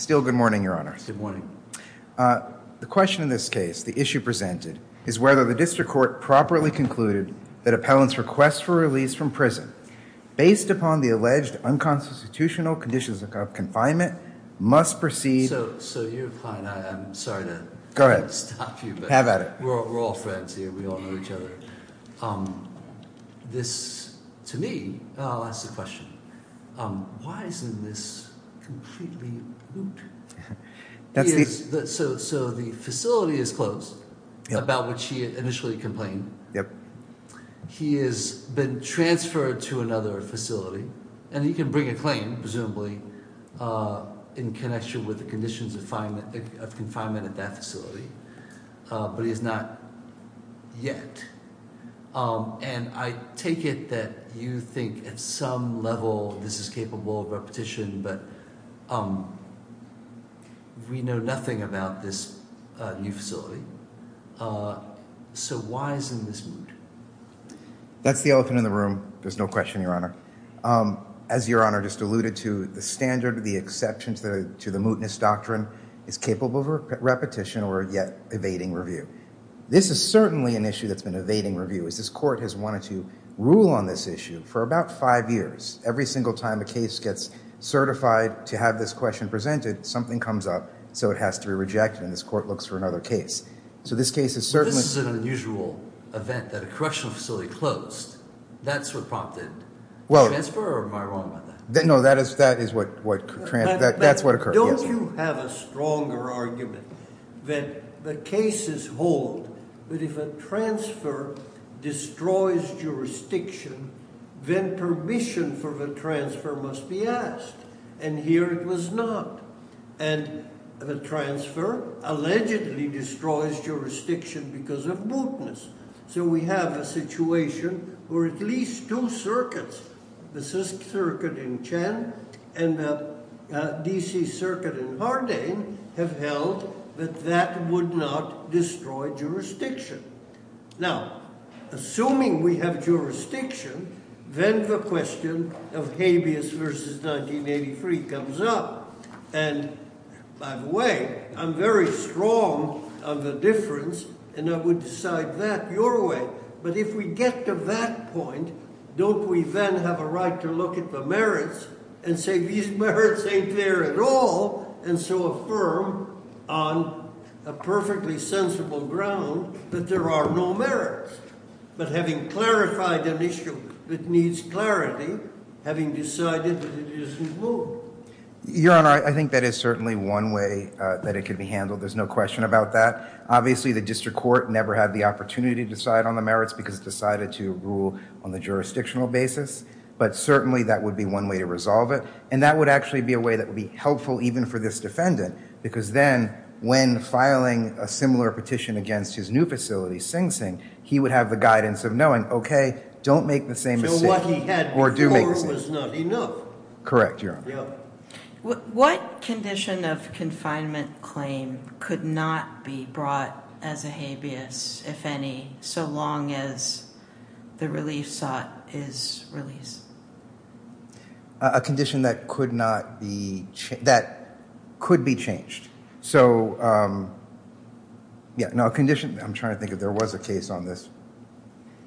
Still good morning, Your Honor. Still good morning. The question in this case, the issue presented, is whether the district court properly concluded that appellants' request for release from prison based upon the alleged unconstitutional conditions of confinement must proceed- So you're fine. I'm sorry to- Go ahead. Stop you, but- Have at it. We're all friends here. We all know each other. This, to me, I'll ask the question, why isn't this completely moot? So the facility is closed, about which he initially complained. He has been transferred to another facility, and he can bring a claim, presumably, in connection with the conditions of confinement at that facility, but he has not yet. And I take it that you think at some level this is capable of repetition, but we know nothing about this new facility. So why isn't this moot? That's the elephant in the room. There's no question, Your Honor. As Your Honor just alluded to, the standard, the exceptions to the mootness doctrine is capable of repetition or yet evading review. This is certainly an issue that's been evading review, is this court has wanted to rule on this issue for about five years. Every single time a case gets certified to have this question presented, something comes up so it has to be rejected, and this court looks for another case. So this case is certainly- This is an unusual event that a correctional facility closed. That's what prompted the transfer, or am I wrong about that? No, that is what- But don't you have a stronger argument that the cases hold that if a transfer destroys jurisdiction, then permission for the transfer must be asked, and here it was not. And the transfer allegedly destroys jurisdiction because of mootness. So we have a situation where at least two circuits, the CISC circuit in Chen and the DC circuit in Hardane, have held that that would not destroy jurisdiction. Now, assuming we have jurisdiction, then the question of habeas versus 1983 comes up, and by the way, I'm very strong on the difference and I would decide that your way, but if we get to that point, don't we then have a right to look at the merits and say these merits ain't there at all, and so affirm on a perfectly sensible ground that there are no merits. But having clarified an issue that needs clarity, having decided that it isn't moot. Your Honor, I think that is certainly one way that it could be handled, there's no question about that. Obviously, the district court never had the opportunity to decide on the merits because it decided to rule on the jurisdictional basis, but certainly that would be one way to resolve it, and that would actually be a way that would be helpful even for this defendant, because then when filing a similar petition against his new facility, Sing Sing, he would have the guidance of knowing, okay, don't make the same mistake, or do make the same mistake. So what he had before was not enough. Correct, Your Honor. What condition of confinement claim could not be brought as a habeas, if any, so long as the relief sought is release? A condition that could not be, that could be changed. So yeah, no, a condition, I'm trying to think if there was a case on this,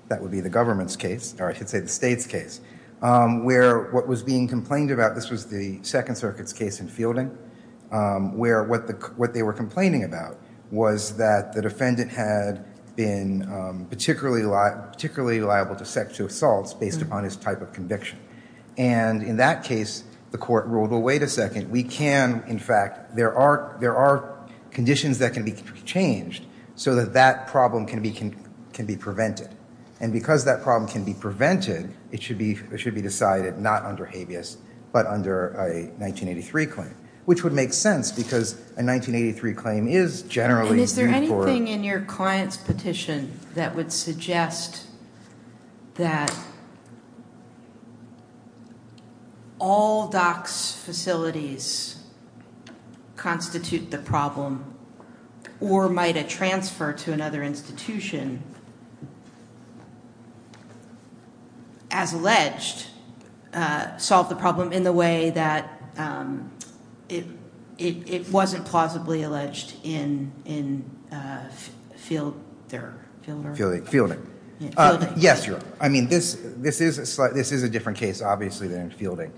that would be the government's case, or I should say the state's case, where what was being complained about, this was the Second Circuit's case in Fielding, where what they were complaining about was that the defendant had been particularly liable to sexual assaults based upon his type of conviction. And in that case, the court ruled, well, wait a second, we can, in fact, there are conditions that can be changed so that that problem can be prevented. And because that problem can be prevented, it should be decided not under habeas, but under a 1983 claim, which would make sense, because a 1983 claim is generally due to court. Is there anything in your client's petition that would suggest that all DOCS facilities constitute the problem, or might a transfer to another institution, as alleged, solve the problem in the way that it wasn't plausibly alleged in Fielding? Fielding. Fielding. Fielding. Yes, Your Honor. I mean, this is a different case, obviously, than Fielding.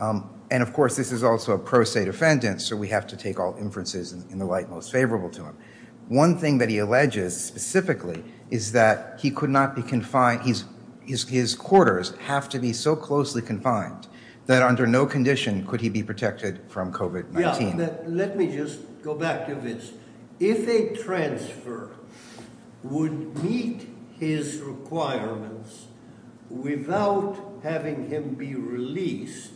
And of course, this is also a pro se defendant, so we have to take all inferences in the light most favorable to him. One thing that he alleges specifically is that he could not be confined, his quarters have to be so closely confined that under no condition could he be protected from COVID-19. Yeah, but let me just go back to this. If a transfer would meet his requirements without having him be released,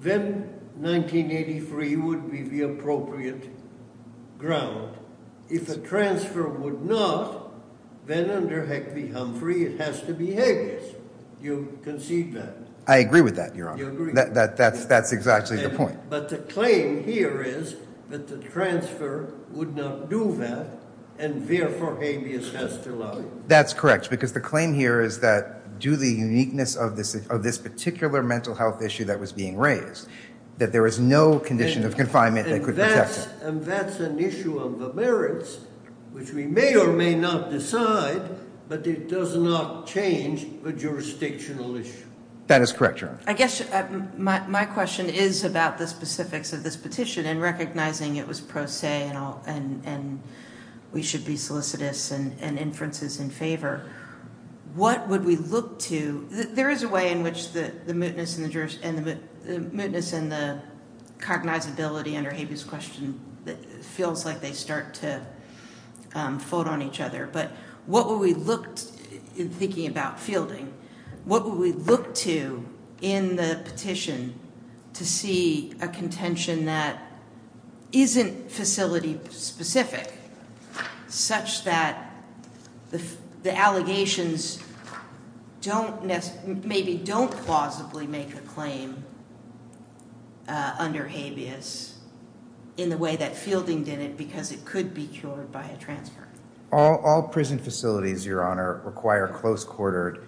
then 1983 would be the appropriate ground. If a transfer would not, then under Heckley Humphrey, it has to be habeas. You concede that. I agree with that, Your Honor. That's exactly the point. But the claim here is that the transfer would not do that, and therefore habeas has to lie. That's correct, because the claim here is that due to the uniqueness of this particular mental health issue that was being raised, that there is no condition of confinement that could protect him. And that's an issue of the merits, which we may or may not decide, but it does not change the jurisdictional issue. That is correct, Your Honor. I guess my question is about the specifics of this petition and recognizing it was pro se and we should be solicitous and inferences in favor. What would we look to, there is a way in which the mootness and the cognizability under habeas question feels like they start to fold on each other, but what would we look, in thinking about fielding, what would we look to in the petition to see a contention that isn't facility specific such that the allegations don't, maybe don't plausibly make a claim under habeas in the way that fielding did it because it could be cured by a transfer? All prison facilities, Your Honor, require close-quartered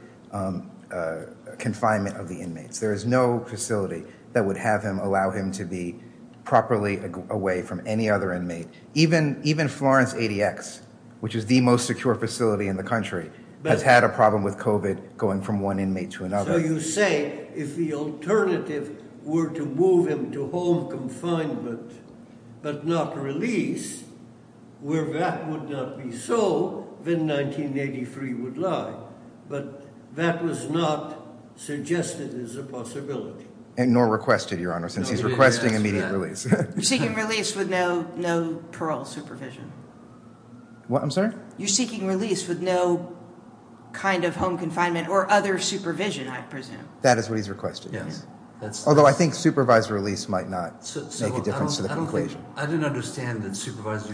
confinement of the inmates. There is no facility that would have him allow him to be properly away from any other inmate. Even Florence ADX, which is the most secure facility in the country, has had a problem with COVID going from one inmate to another. So you say if the alternative were to move him to home confinement but not release, where that would not be so, then 1983 would lie. But that was not suggested as a possibility. Nor requested, Your Honor, since he's requesting immediate release. You're seeking release with no parole supervision. What, I'm sorry? You're seeking release with no kind of home confinement or other supervision, I presume. That is what he's requesting, yes. Although I think supervised release might not make a difference to the conclusion. I didn't understand the supervised,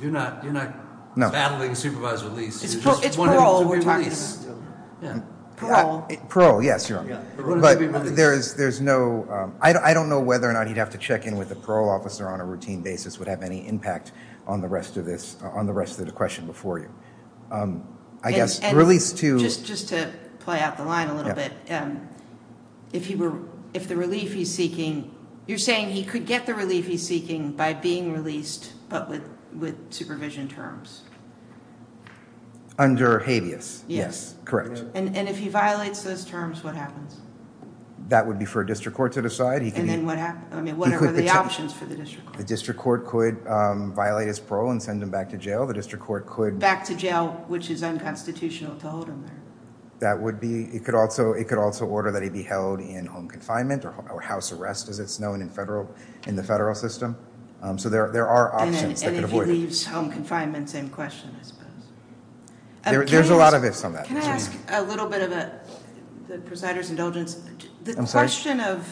you're not battling supervised release. It's parole, we're talking about, yeah, parole. Parole, yes, Your Honor. But there's no, I don't know whether or not he'd have to check in with a parole officer on a routine basis would have any impact on the rest of the question before you. I guess release to... Just to play out the line a little bit, if he were, if the relief he's seeking, you're saying he could get the relief he's seeking by being released but with supervision terms? Under habeas, yes, correct. And if he violates those terms, what happens? That would be for a district court to decide. And then what happens? I mean, what are the options for the district court? The district court could violate his parole and send him back to jail. The district court could... Back to jail, which is unconstitutional to hold him there. That would be, it could also order that he be held in home confinement or house arrest as it's known in federal, in the federal system. So there are options that could avoid it. And if he leaves home confinement, same question, I suppose. There's a lot of ifs on that. Can I ask a little bit of a, the presider's indulgence, the question of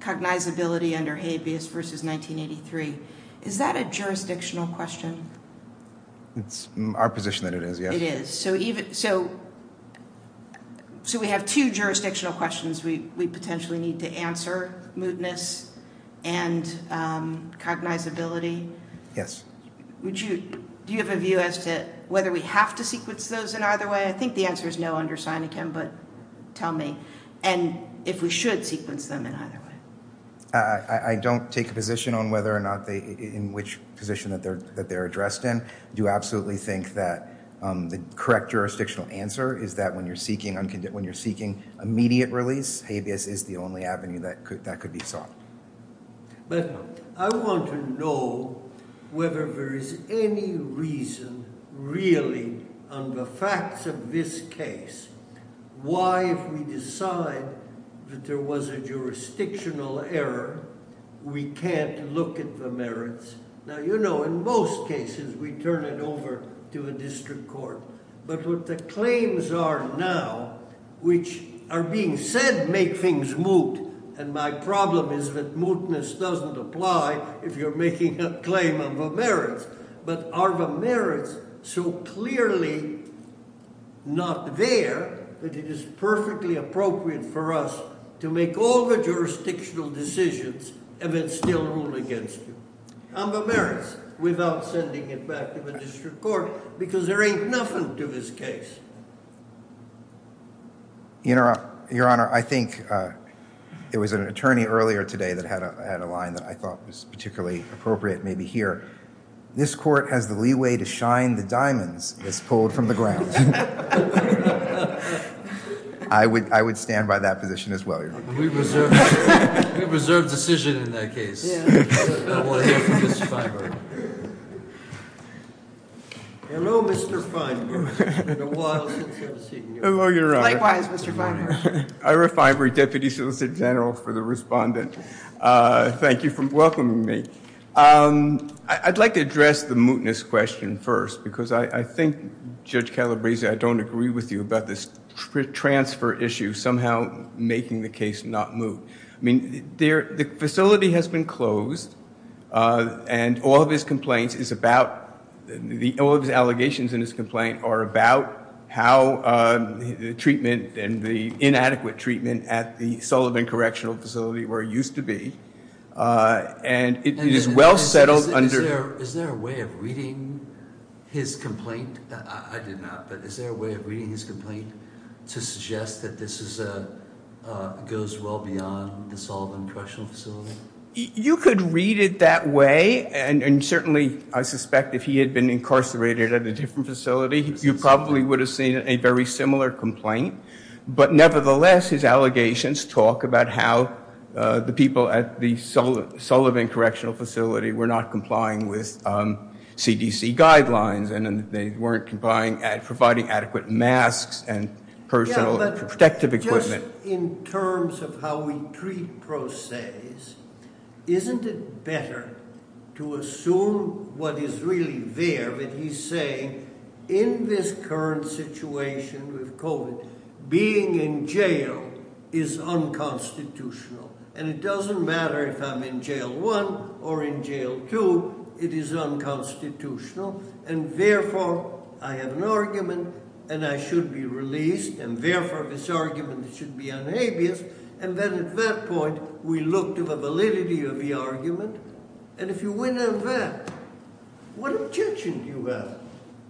cognizability under habeas versus 1983, is that a jurisdictional question? It's our position that it is, yes. It is. So even, so, so we have two jurisdictional questions we potentially need to answer, mootness and cognizability. Yes. Would you, do you have a view as to whether we have to sequence those in either way? I think the answer is no under Seneca, but tell me. And if we should sequence them in either way. I, I don't take a position on whether or not they, in which position that they're, that they're addressed in. Do absolutely think that the correct jurisdictional answer is that when you're seeking, when you're seeking immediate release, habeas is the only avenue that could, that could be sought. But I want to know whether there is any reason really on the facts of this case, why if we decide that there was a jurisdictional error, we can't look at the merits. Now, you know, in most cases we turn it over to a district court, but what the claims are now, which are being said make things moot. And my problem is that mootness doesn't apply if you're making a claim of a merits, but are the merits so clearly not there that it is perfectly appropriate for us to make all the jurisdictional decisions and then still rule against you on the merits without sending it back to the district court because there ain't nothing to this case. Your Honor, I think, uh, it was an attorney earlier today that had a, had a line that I thought was particularly appropriate, maybe here. This court has the leeway to shine the diamonds that's pulled from the ground. I would, I would stand by that position as well, Your Honor. We reserve, we reserve decision in that case. Yeah. I want to hear from Mr. Feinberg. Hello, Mr. Feinberg. It's been a while since I've seen you. Hello, Your Honor. Likewise, Mr. Feinberg. Ira Feinberg, Deputy Solicitor General for the Respondent. Thank you for welcoming me. I'd like to address the mootness question first because I think Judge Calabresi, I don't agree with you about this transfer issue somehow making the case not moot. I mean, the facility has been closed and all of his complaints is about, all of his allegations in his complaint are about how the treatment and the inadequate treatment at the Sullivan Correctional Facility where it used to be. And it is well settled under- Is there a way of reading his complaint? I did not, but is there a way of reading his complaint to suggest that this is a, goes well beyond the Sullivan Correctional Facility? You could read it that way, and certainly I suspect if he had been incarcerated at a different facility, you probably would have seen a very similar complaint. But nevertheless, his allegations talk about how the people at the Sullivan Correctional Facility were not complying with CDC guidelines and they weren't providing adequate masks and personal protective equipment. Yeah, but just in terms of how we treat pro ses, isn't it better to assume what is really there? But he's saying in this current situation with COVID, being in jail is unconstitutional. And it doesn't matter if I'm in jail one or in jail two, it is unconstitutional. And therefore, I have an argument and I should be released. And therefore, this argument should be unabased. And then at that point, we looked at the validity of the argument. And if you win at that, what objection do you have?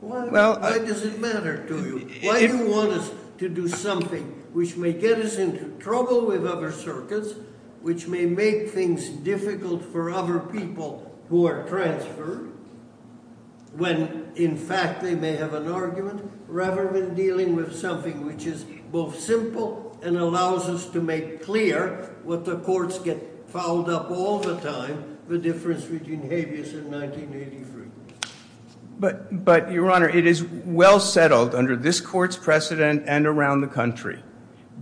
Why does it matter to you? Why do you want us to do something which may get us into trouble with other circuits, which may make things difficult for other people who are transferred, when in fact they may have an argument rather than dealing with something which is both simple and allows us to make clear what the courts get fouled up all the time, the difference between habeas and 1983. But Your Honor, it is well settled under this court's precedent and around the country,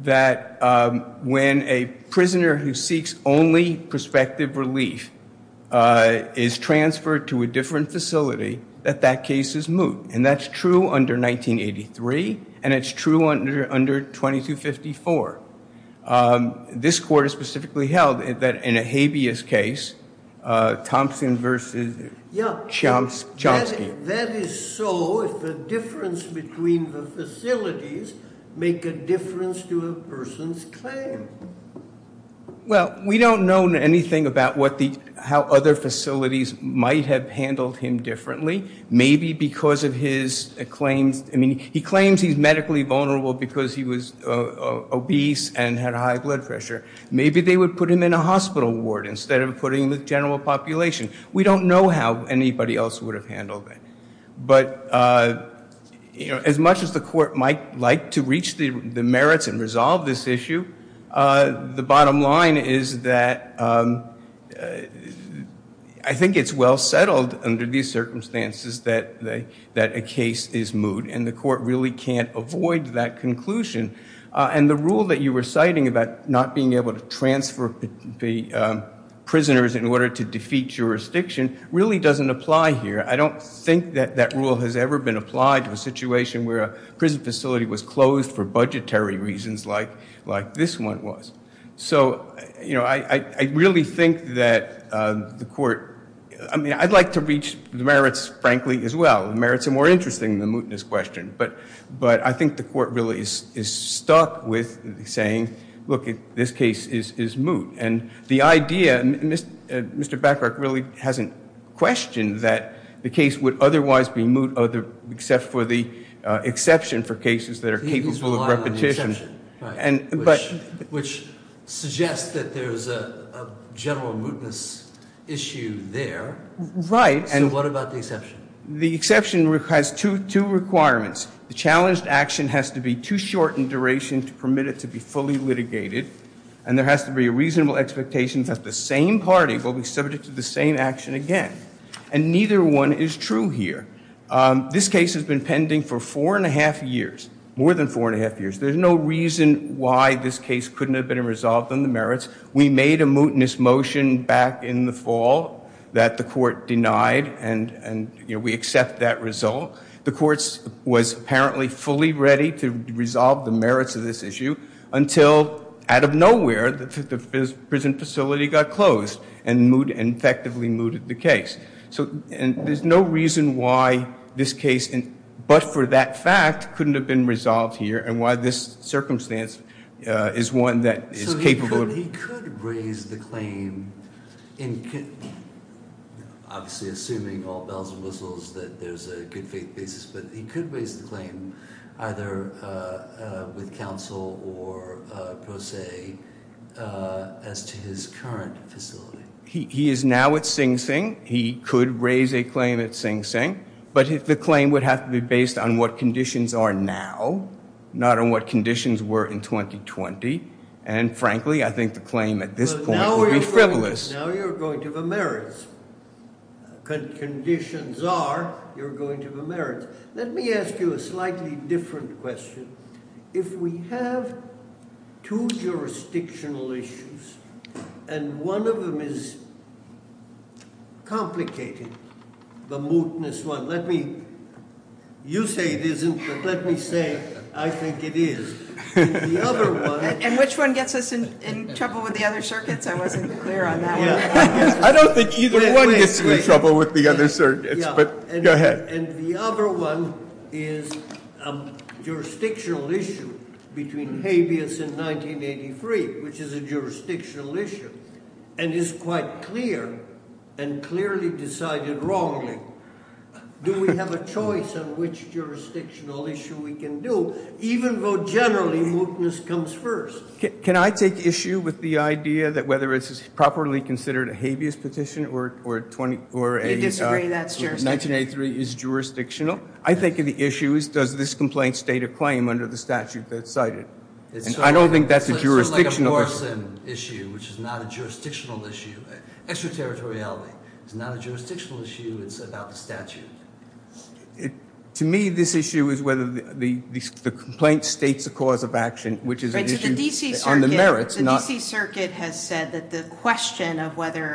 that when a prisoner who seeks only prospective relief is transferred to a different facility, that that case is moot. And that's true under 1983. And it's true under 2254. This court has specifically held that in a habeas case, Thompson versus Chomsky. That is so if the difference between the facilities make a difference to a person's claim. Well, we don't know anything about how other facilities might have handled him differently. Maybe because of his claims. I mean, he claims he's medically vulnerable because he was obese and had high blood pressure. Maybe they would put him in a hospital ward instead of putting him with general population. We don't know how anybody else would have handled it. But as much as the court might like to reach the merits and resolve this issue, the bottom line is that I think it's well settled under these circumstances that a case is moot. And the court really can't avoid that conclusion. And the rule that you were citing about not being able to transfer the prisoners in order to defeat jurisdiction really doesn't apply here. I don't think that that rule has ever been applied to a situation where a prison facility was closed for budgetary reasons like this one was. So I really think that the court, I mean, I'd like to reach the merits, frankly, as well. The merits are more interesting than the mootness question. But I think the court really is stuck with saying, look, this case is moot. And the idea, Mr. Bacharach really hasn't questioned that the case would otherwise be moot except for the exception for cases that are capable of repetition. He's relying on the exception, which suggests that there's a general mootness issue there. Right. So what about the exception? The exception has two requirements. The challenged action has to be too short in duration to permit it to be fully litigated. And there has to be a reasonable expectation that the same party will be subject to the same action again. And neither one is true here. This case has been pending for four and a half years, more than four and a half years. There's no reason why this case couldn't have been resolved on the merits. We made a mootness motion back in the fall that the court denied. And we accept that result. The court was apparently fully ready to resolve the merits of this issue until out of nowhere, the prison facility got closed and moot, and effectively mooted the case. So, and there's no reason why this case, but for that fact, couldn't have been resolved here. And why this circumstance is one that is capable of- So he could raise the claim in, obviously assuming all bells and whistles that there's a good faith basis. But he could raise the claim either with counsel or pro se as to his current facility. He is now at Sing Sing. He could raise a claim at Sing Sing. But the claim would have to be based on what conditions are now, not on what conditions were in 2020. And frankly, I think the claim at this point would be frivolous. Now you're going to the merits. Conditions are, you're going to the merits. Let me ask you a slightly different question. If we have two jurisdictional issues, and one of them is complicated, the mootness one. Let me, you say it isn't, but let me say I think it is. And the other one- And which one gets us in trouble with the other circuits? I wasn't clear on that one. I don't think either one gets you in trouble with the other circuits, but go ahead. And the other one is jurisdictional issue between habeas and 1983, which is a jurisdictional issue, and is quite clear. And clearly decided wrongly. Do we have a choice on which jurisdictional issue we can do? Even though generally, mootness comes first. Can I take issue with the idea that whether it's properly considered a habeas petition or a- You disagree that's jurisdictional. 1983 is jurisdictional. I think of the issue as does this complaint state a claim under the statute that's cited? And I don't think that's a jurisdictional- It's sort of like a Morrison issue, which is not a jurisdictional issue. Extraterritoriality is not a jurisdictional issue, it's about the statute. To me, this issue is whether the complaint states a cause of action, which is an issue on the merits, not- The D.C. Circuit has said that the question of whether-